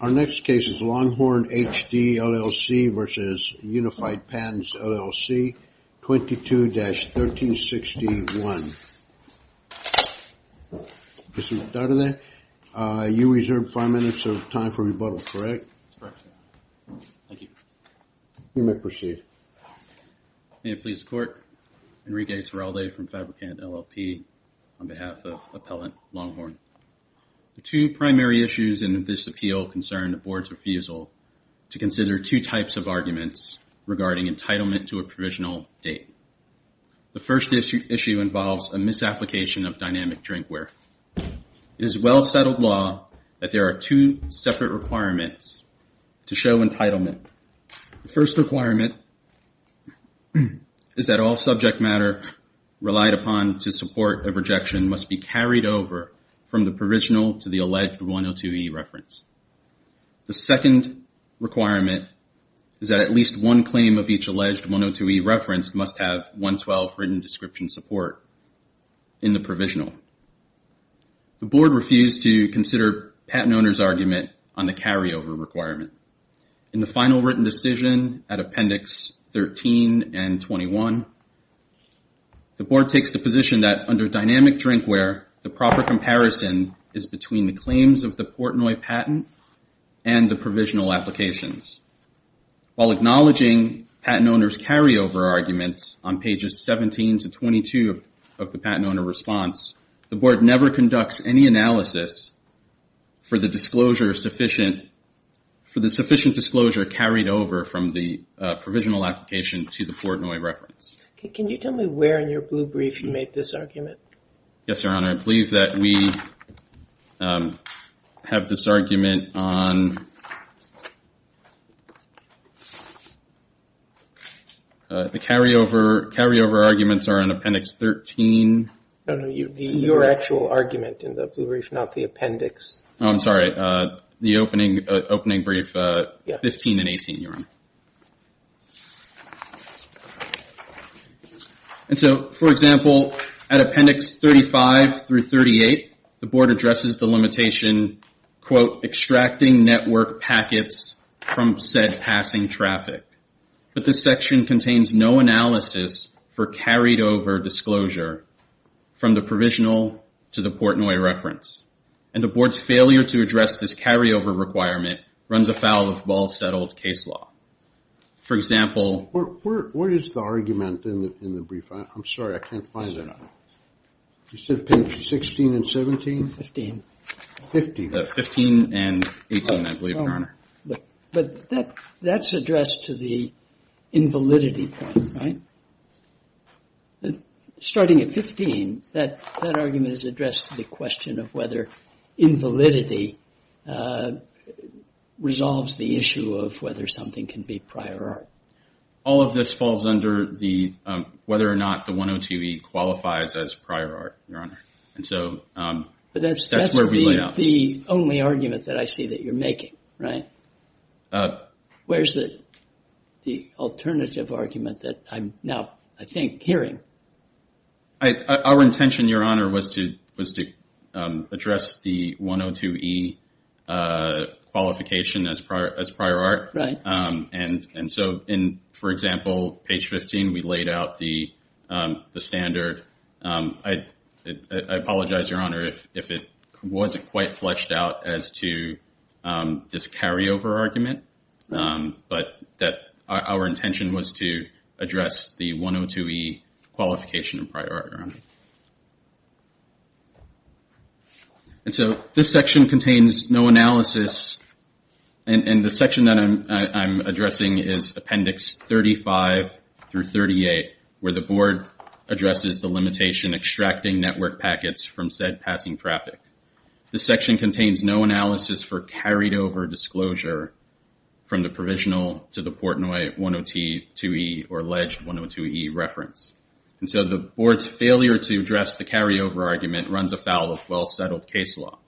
Our next case is Longhorn HD LLC v. Unified Patents, LLC, 22-1361. Mr. Dardenne, you reserve five minutes of time for rebuttal, correct? That's correct, sir. Thank you. You may proceed. May it please the Court, Enrique Terralde from Fabricant, LLP, on behalf of Appellant Longhorn. The two primary issues in this appeal concern the Board's refusal to consider two types of arguments regarding entitlement to a provisional date. The first issue involves a misapplication of dynamic drinkware. It is a well-settled law that there are two separate requirements to show entitlement. The first requirement is that all subject matter relied upon to support a rejection must be carried over from the provisional to the alleged 102e reference. The second requirement is that at least one claim of each alleged 102e reference must have 112 written description support in the provisional. The Board refused to consider patent owner's argument on the carryover requirement. In the final written decision at Appendix 13 and 21, the Board takes the position that under dynamic drinkware, the proper comparison is between the claims of the Portnoy patent and the provisional applications. While acknowledging patent owner's carryover arguments on pages 17 to 22 of the patent owner response, the Board never conducts any analysis for the disclosure sufficient, for the sufficient disclosure carried over from the provisional application to the Portnoy reference. Can you tell me where in your blue brief you made this argument? Yes, Your Honor. I believe that we have this argument on the carryover, carryover arguments are in Appendix 13. No, no, your actual argument in the blue brief, not the appendix. I'm sorry, the opening brief 15 and 18, Your Honor. And so, for example, at Appendix 35 through 38, the Board addresses the limitation, quote, extracting network packets from said passing traffic. But this section contains no analysis for carried over disclosure from the provisional to the Portnoy reference. And the Board's failure to address this carryover requirement runs afoul of Ball Settled case law. For example, What is the argument in the brief? I'm sorry, I can't find it. You said page 16 and 17? 15. 15. 15 and 18, I believe, Your Honor. But that's addressed to the invalidity point, right? Starting at 15, that argument is addressed to the question of whether invalidity resolves the issue of whether something can be prior art. All of this falls under the, whether or not the 102E qualifies as prior art, Your Honor. And so, that's where we lay out. That's not the only argument that I see that you're making, right? Where's the alternative argument that I'm now, I think, hearing? Our intention, Your Honor, was to address the 102E qualification as prior art. Right. And so, for example, page 15, we laid out the standard. I apologize, Your Honor, if it wasn't quite fleshed out as to this carryover argument. But our intention was to address the 102E qualification as prior art, Your Honor. And so, this section contains no analysis. And the section that I'm addressing is Appendix 35 through 38, where the Board addresses the limitation extracting network packets from said passing traffic. This section contains no analysis for carried over disclosure from the provisional to the Portnoy 102E or alleged 102E reference. And so, the Board's failure to address the carryover argument runs afoul of well-settled case law.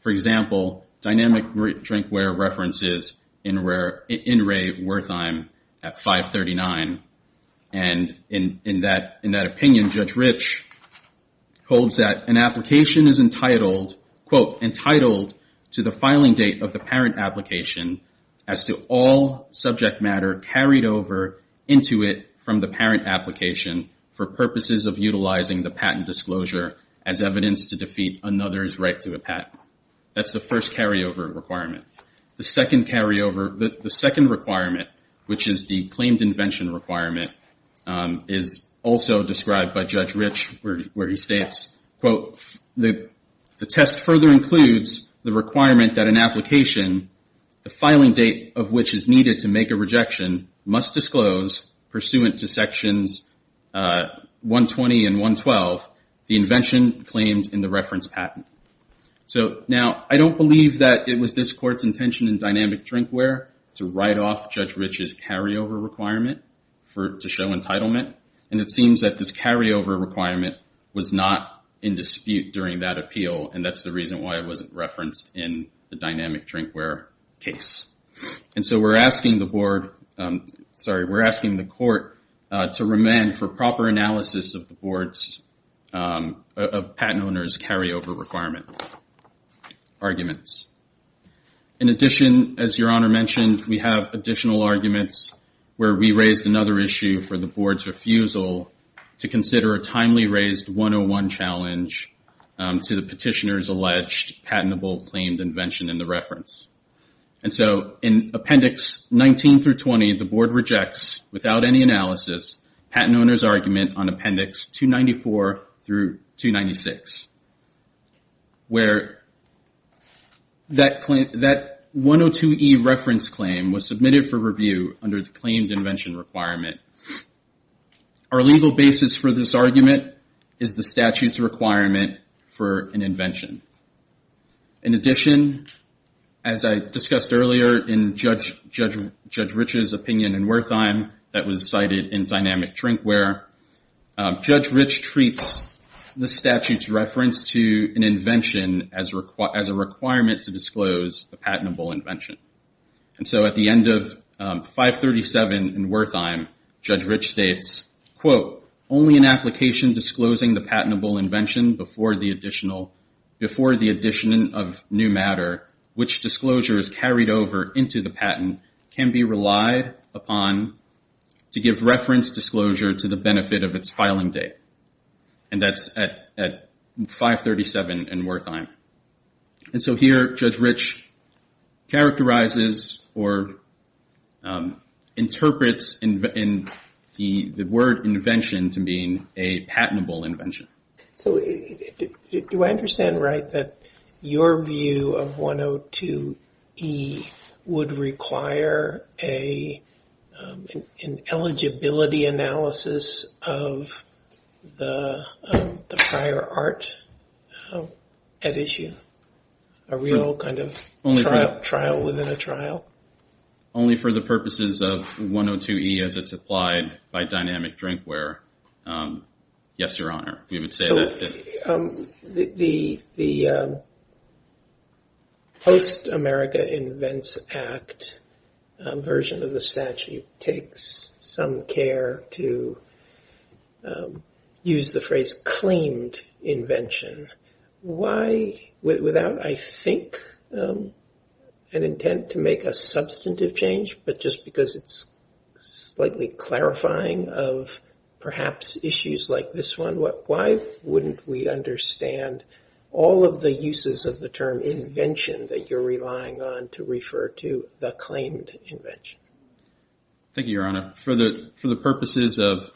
For example, Dynamic Drinkware references NRA Wertheim at 539. And in that opinion, Judge Rich holds that an application is entitled, quote, entitled to the filing date of the parent application as to all subject matter carried over into it from the parent application for purposes of utilizing the patent disclosure as evidence to defeat another's right to a patent. That's the first carryover requirement. The second carryover, the second requirement, which is the claimed invention requirement, is also described by Judge Rich, where he states, quote, the test further includes the requirement that an application, the filing date of which is needed to make a rejection, must disclose, pursuant to sections 120 and 112, the invention claimed in the reference patent. So, now, I don't believe that it was this Court's intention in Dynamic Drinkware to write off Judge Rich's carryover requirement to show entitlement. And it seems that this carryover requirement was not in dispute during that appeal, and that's the reason why it wasn't referenced in the Dynamic Drinkware case. And so we're asking the Court to remand for proper analysis of the board's, of patent owners' carryover requirement arguments. In addition, as Your Honor mentioned, we have additional arguments where we raised another issue for the board's refusal to consider a timely raised 101 challenge to the petitioner's alleged patentable claimed invention in the reference. And so, in Appendix 19 through 20, the board rejects, without any analysis, patent owners' argument on Appendix 294 through 296, where that 102E reference claim was submitted for review under the claimed invention requirement. Our legal basis for this argument is the statute's requirement for an invention. In addition, as I discussed earlier in Judge Rich's opinion in Wertheim, that was cited in Dynamic Drinkware, Judge Rich treats the statute's reference to an invention as a requirement to disclose the patentable invention. And so at the end of 537 in Wertheim, Judge Rich states, quote, only an application disclosing the patentable invention before the addition of new matter, which disclosure is carried over into the patent, can be relied upon to give reference disclosure to the benefit of its filing date. And that's at 537 in Wertheim. And so here, Judge Rich characterizes or interprets the word invention to mean a patentable invention. So do I understand right that your view of 102E would require an eligibility analysis of the prior art at issue? A real kind of trial within a trial? Only for the purposes of 102E as it's applied by Dynamic Drinkware. Yes, Your Honor, we would say that. The Post-America Invents Act version of the statute takes some care to use the phrase claimed invention. Why, without, I think, an intent to make a substantive change, but just because it's slightly clarifying of perhaps issues like this one, why wouldn't we understand all of the uses of the term invention that you're relying on to refer to the claimed invention? Thank you, Your Honor. For the purposes of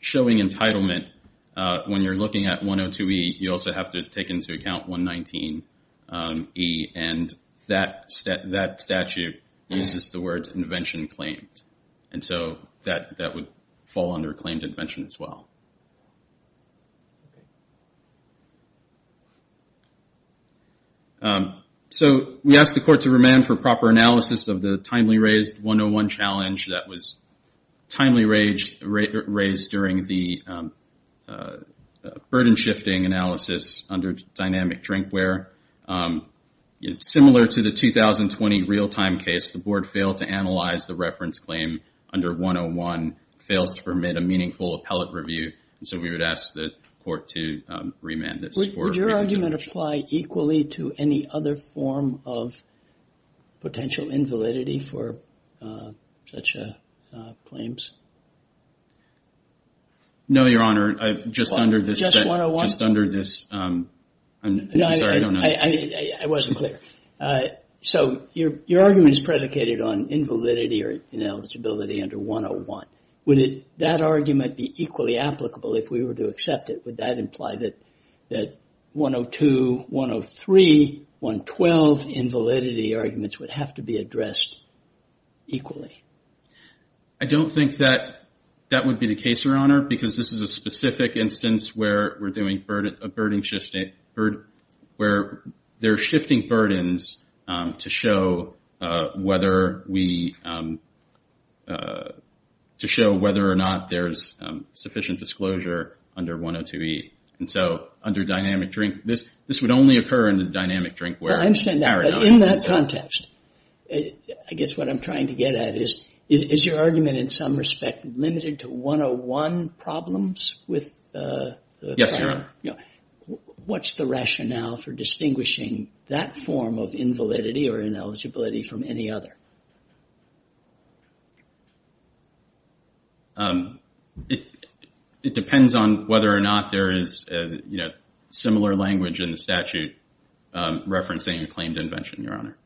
showing entitlement, when you're looking at 102E, you also have to take into account 119E. And that statute uses the words invention claimed. And so that would fall under claimed invention as well. So we ask the Court to remand for proper analysis of the timely raised 101 challenge that was timely raised during the burden shifting analysis under Dynamic Drinkware. Similar to the 2020 real-time case, the Board failed to analyze the reference claim under 101, fails to permit a meaningful appellate review. And so we would ask the Court to remand this. Would your argument apply equally to any other form of potential invalidity for such claims? No, Your Honor, just under this. Just 101? Just under this. I'm sorry, I don't know. I wasn't clear. So your argument is predicated on invalidity or ineligibility under 101. Would that argument be equally applicable if we were to accept it? Would that imply that 102, 103, 112 invalidity arguments would have to be addressed equally? I don't think that that would be the case, Your Honor, because this is a specific instance where we're doing a burden shifting, where they're shifting burdens to show whether we, to show whether or not there's sufficient disclosure under 102E. And so under Dynamic Drink, this would only occur under Dynamic Drinkware. I understand that, but in that context, I guess what I'm trying to get at is, is your argument in some respect limited to 101 problems with the claim? Yes, Your Honor. What's the rationale for distinguishing that form of invalidity or ineligibility from any other? It depends on whether or not there is, you know, reference to any claimed invention, Your Honor.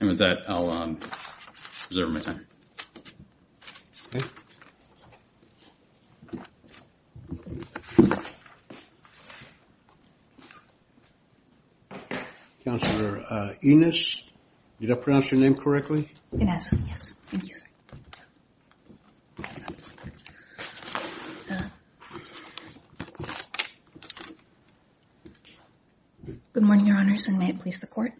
And with that, I'll reserve my time. Okay. Counselor Enos, did I pronounce your name correctly? Enos, yes. Thank you, sir. Good morning, Your Honors, and may it please the Court.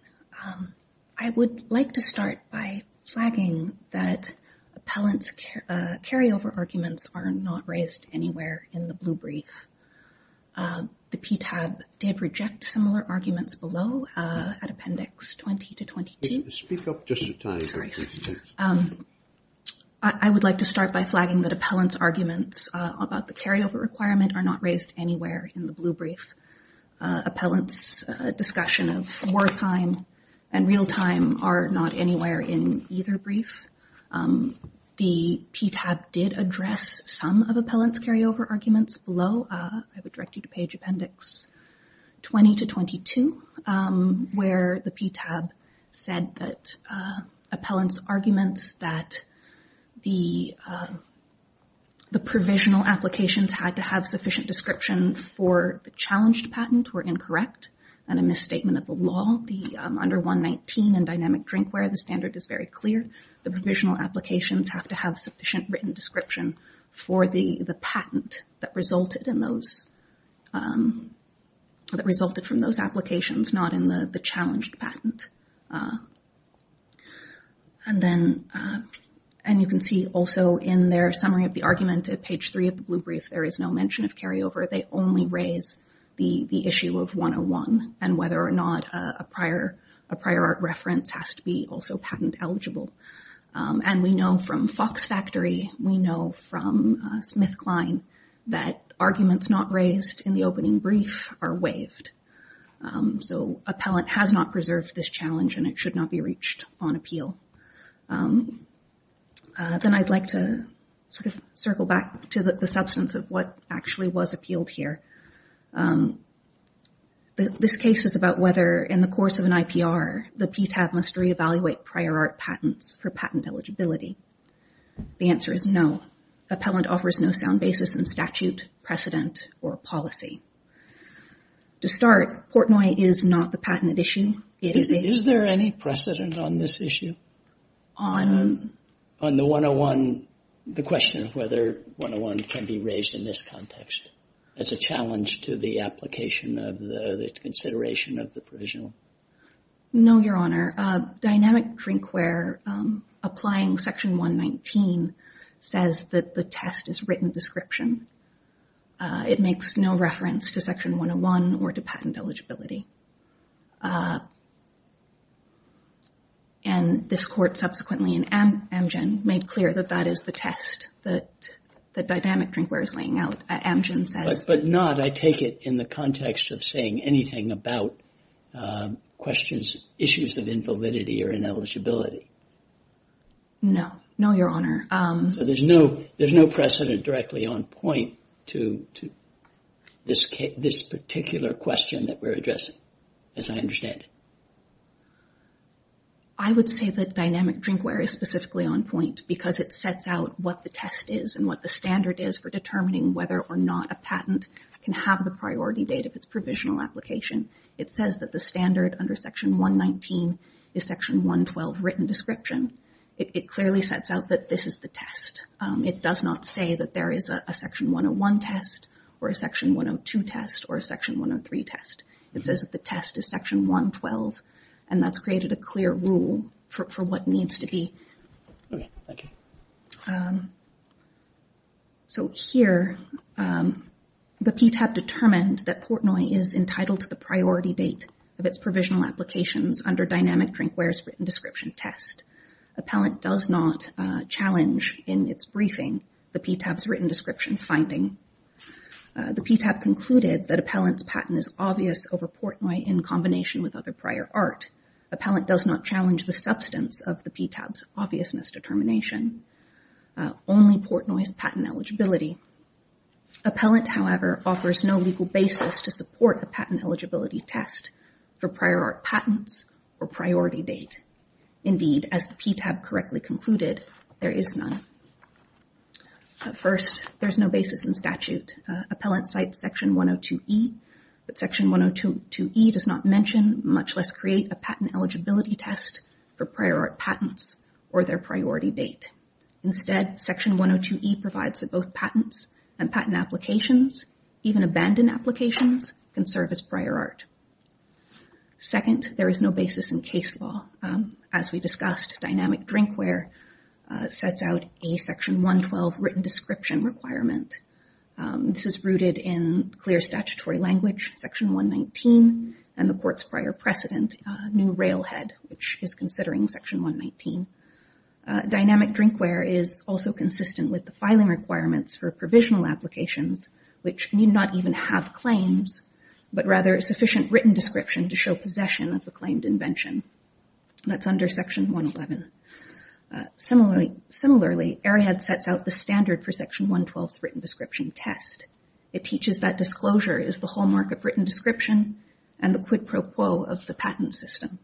I would like to start by flagging that appellant's carryover arguments are not raised anywhere in the blue brief. The PTAB did reject similar arguments below at Appendix 20 to 22. Speak up just a tiny bit. I would like to start by flagging that appellant's arguments about the carryover requirement are not raised anywhere in the blue brief. Appellant's discussion of wartime and real time are not anywhere in either brief. The PTAB did address some of appellant's carryover arguments below. I would direct you to Page Appendix 20 to 22, where the PTAB said that appellant's arguments that the provisional applications had to have sufficient description for the challenged patent were incorrect and a misstatement of the law. Under 119 and dynamic drinkware, the standard is very clear. The provisional applications have to have sufficient written description for the patent that resulted from those applications, not in the challenged patent. And you can see also in their summary of the argument at Page 3 of the blue brief, there is no mention of carryover. They only raise the issue of 101 and whether or not a prior art reference has to be also patent eligible. And we know from Fox Factory, we know from Smith-Klein, that arguments not raised in the opening brief are waived. So appellant has not preserved this challenge and it should not be reached on appeal. Then I'd like to sort of circle back to the substance of what actually was appealed here. This case is about whether in the course of an IPR, the PTAB must reevaluate prior art patents for patent eligibility. The answer is no. Appellant offers no sound basis in statute, precedent, or policy. To start, Portnoy is not the patent issue. Is there any precedent on this issue? On the 101, the question of whether 101 can be raised in this context as a challenge to the application of the consideration of the provisional? No, Your Honor. Dynamic Drinkware applying Section 119 says that the test is written description. It makes no reference to Section 101 or to patent eligibility. And this court subsequently in Amgen made clear that that is the test that Dynamic Drinkware is laying out. But not, I take it, in the context of saying anything about questions, issues of invalidity or ineligibility. No, Your Honor. So there's no precedent directly on point to this particular question that we're addressing, as I understand it. I would say that Dynamic Drinkware is specifically on point because it sets out what the test is and what the standard is for determining whether or not a patent can have the priority date of its provisional application. It says that the standard under Section 119 is Section 112, written description. It clearly sets out that this is the test. It does not say that there is a Section 101 test or a Section 102 test or a Section 103 test. It says that the test is Section 112, and that's created a clear rule for what needs to be. Okay, thank you. So here the PTAB determined that Portnoy is entitled to the priority date of its provisional applications under Dynamic Drinkware's written description test. Appellant does not challenge in its briefing the PTAB's written description finding. The PTAB concluded that Appellant's patent is obvious over Portnoy in combination with other prior art. Appellant does not challenge the substance of the PTAB's obviousness determination, only Portnoy's patent eligibility. Appellant, however, offers no legal basis to support a patent eligibility test for prior art patents or priority date. Indeed, as the PTAB correctly concluded, there is none. First, there's no basis in statute. Appellant cites Section 102E, but Section 102E does not mention, much less create, a patent eligibility test for prior art patents or their priority date. Instead, Section 102E provides that both patents and patent applications, even abandoned applications, can serve as prior art. Second, there is no basis in case law. As we discussed, Dynamic Drinkware sets out a Section 112 written description requirement. This is rooted in clear statutory language, Section 119, and the court's prior precedent, new railhead, which is considering Section 119. Dynamic Drinkware is also consistent with the filing requirements for provisional applications, which need not even have claims, but rather a sufficient written description to show possession of the claimed invention. That's under Section 111. Similarly, Arrowhead sets out the standard for Section 112's written description test. It teaches that disclosure is the hallmark of written description and the quid pro quo of the patent system.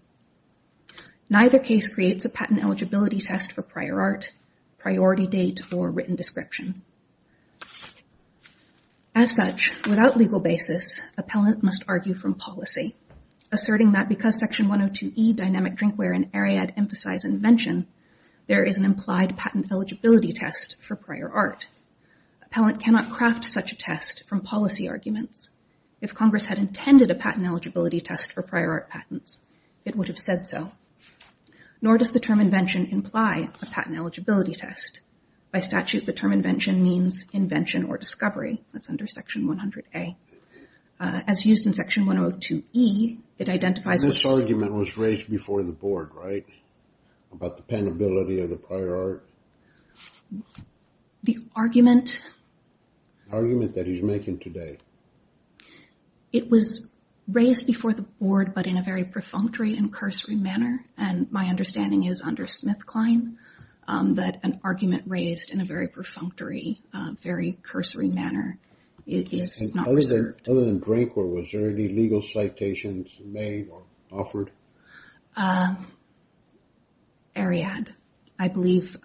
Neither case creates a patent eligibility test for prior art, priority date, or written description. As such, without legal basis, appellant must argue from policy, asserting that because Section 102E, Dynamic Drinkware, and Arrowhead emphasize invention, there is an implied patent eligibility test for prior art. Appellant cannot craft such a test from policy arguments. If Congress had intended a patent eligibility test for prior art patents, it would have said so. Nor does the term invention imply a patent eligibility test. By statute, the term invention means invention or discovery. That's under Section 100A. As used in Section 102E, it identifies... This argument was raised before the board, right? About the penability of the prior art. The argument... The argument that he's making today. It was raised before the board, but in a very perfunctory and cursory manner. And my understanding is under Smith-Klein, that an argument raised in a very perfunctory, very cursory manner is not reserved. Other than Drinkware, was there any legal citations made or offered? Ariadne. I believe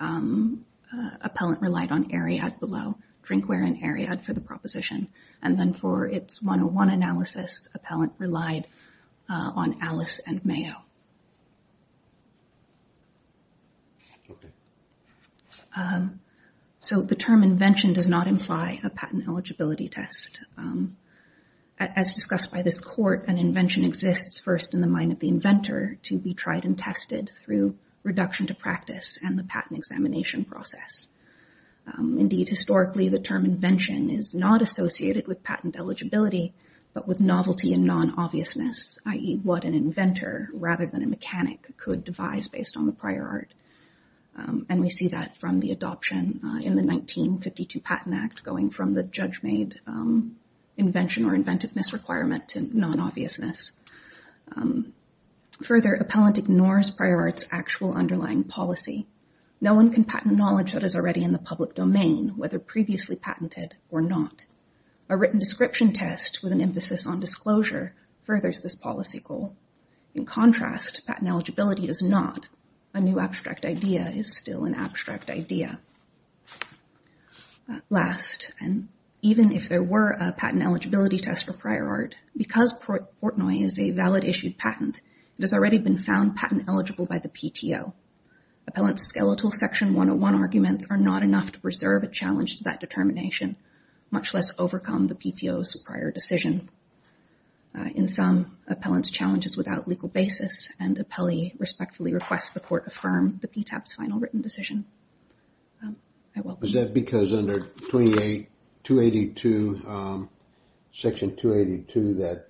appellant relied on Ariadne below Drinkware and Ariadne for the proposition. And then for its 101 analysis, appellant relied on Alice and Mayo. So the term invention does not imply a patent eligibility test. As discussed by this court, an invention exists first in the mind of the inventor to be tried and tested through reduction to practice and the patent examination process. Indeed, historically, the term invention is not associated with patent eligibility, but with novelty and non-obviousness, i.e., what an inventor rather than a mechanic could devise based on the prior art. And we see that from the adoption in the 1952 Patent Act going from the judge-made invention or inventiveness requirement to non-obviousness. Further, appellant ignores prior art's actual underlying policy. No one can patent knowledge that is already in the public domain, whether previously patented or not. A written description test with an emphasis on disclosure furthers this policy goal. In contrast, patent eligibility does not. A new abstract idea is still an abstract idea. Last, and even if there were a patent eligibility test for prior art, because Portnoy is a valid issued patent, it has already been found patent eligible by the PTO. Appellant's skeletal Section 101 arguments are not enough to preserve a challenge to that determination, much less overcome the PTO's prior decision. In sum, appellant's challenge is without legal basis and appellee respectfully requests the court affirm the PTAP's final written decision. Is that because under 282, Section 282, that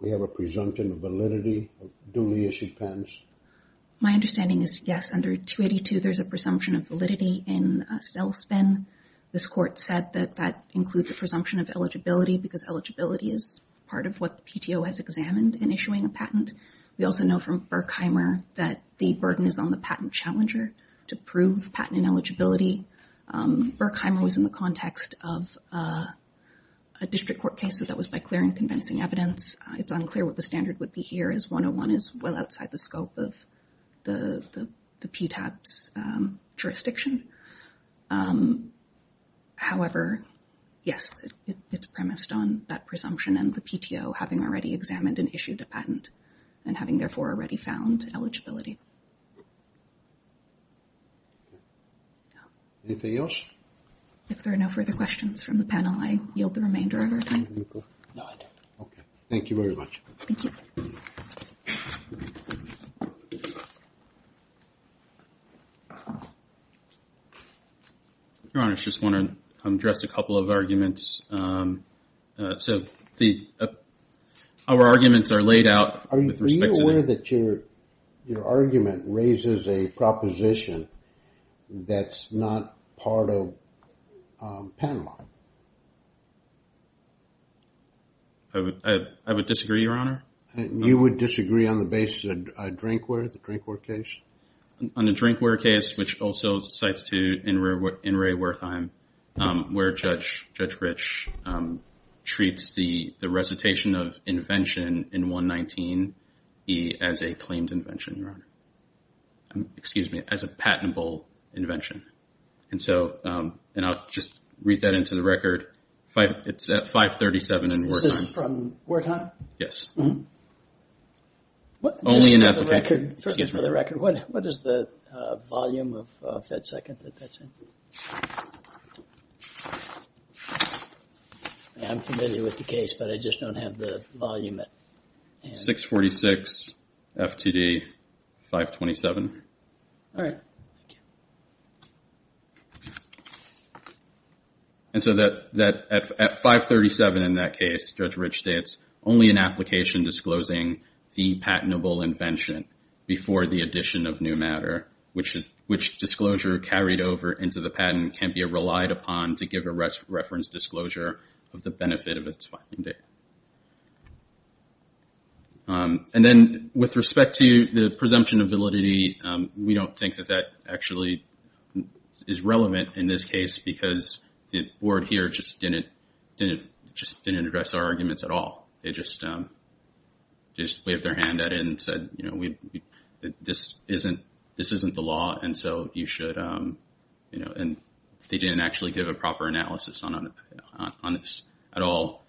we have a presumption of validity of duly issued patents? My understanding is, yes, under 282, there's a presumption of validity in sales spin. This court said that that includes a presumption of eligibility because eligibility is part of what the PTO has examined in issuing a patent. We also know from Berkheimer that the burden is on the patent challenger to prove patent ineligibility. Berkheimer was in the context of a district court case that was by clear and convincing evidence. It's unclear what the standard would be here as 101 is well outside the scope of the PTAP's jurisdiction. However, yes, it's premised on that presumption and the PTO having already examined and issued a patent and having therefore already found eligibility. If there are no further questions from the panel, I yield the remainder of our time. Thank you very much. Your Honor, I just want to address a couple of arguments. Our arguments are laid out. Are you aware that your argument raises a proposition that's not part of the patent line? I would disagree, Your Honor. You would disagree on the basis of a drinkware, the drinkware case? On the drinkware case, which also cites to N. Ray Wertheim, where Judge Rich treats the recitation of invention in 119E as a claimed invention, Your Honor. Excuse me, as a patentable invention. I'll just read that into the record. It's at 537 in Wertheim. Is this from Wertheim? Yes. What is the volume of FedSecond that that's in? I'm familiar with the case, but I just don't have the volume. 646 FTD 527. All right. And so at 537 in that case, Judge Rich states, only an application disclosing the patentable invention before the addition of new matter, which disclosure carried over into the patent can be relied upon to give a reference disclosure of the benefit of its finding. And then with respect to the presumption of validity, we don't think that that actually is relevant in this case because the board here just didn't address our arguments at all. They just waved their hand at it and said, you know, this isn't the law and so you should, and they didn't actually give a proper analysis on this at all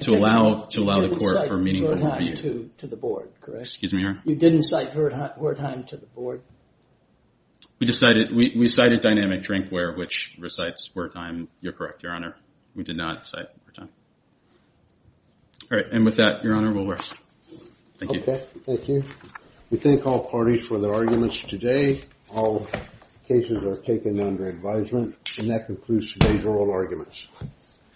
to allow the court for meaningful review. You didn't cite Wertheim to the board, correct? You didn't cite Wertheim to the board? We cited Dynamic Drinkware, which recites Wertheim. You're correct, Your Honor. We did not cite Wertheim. All right. And with that, Your Honor, we'll rest. Thank you. We thank all parties for their arguments today. All cases are taken under advisement. And that concludes today's oral arguments.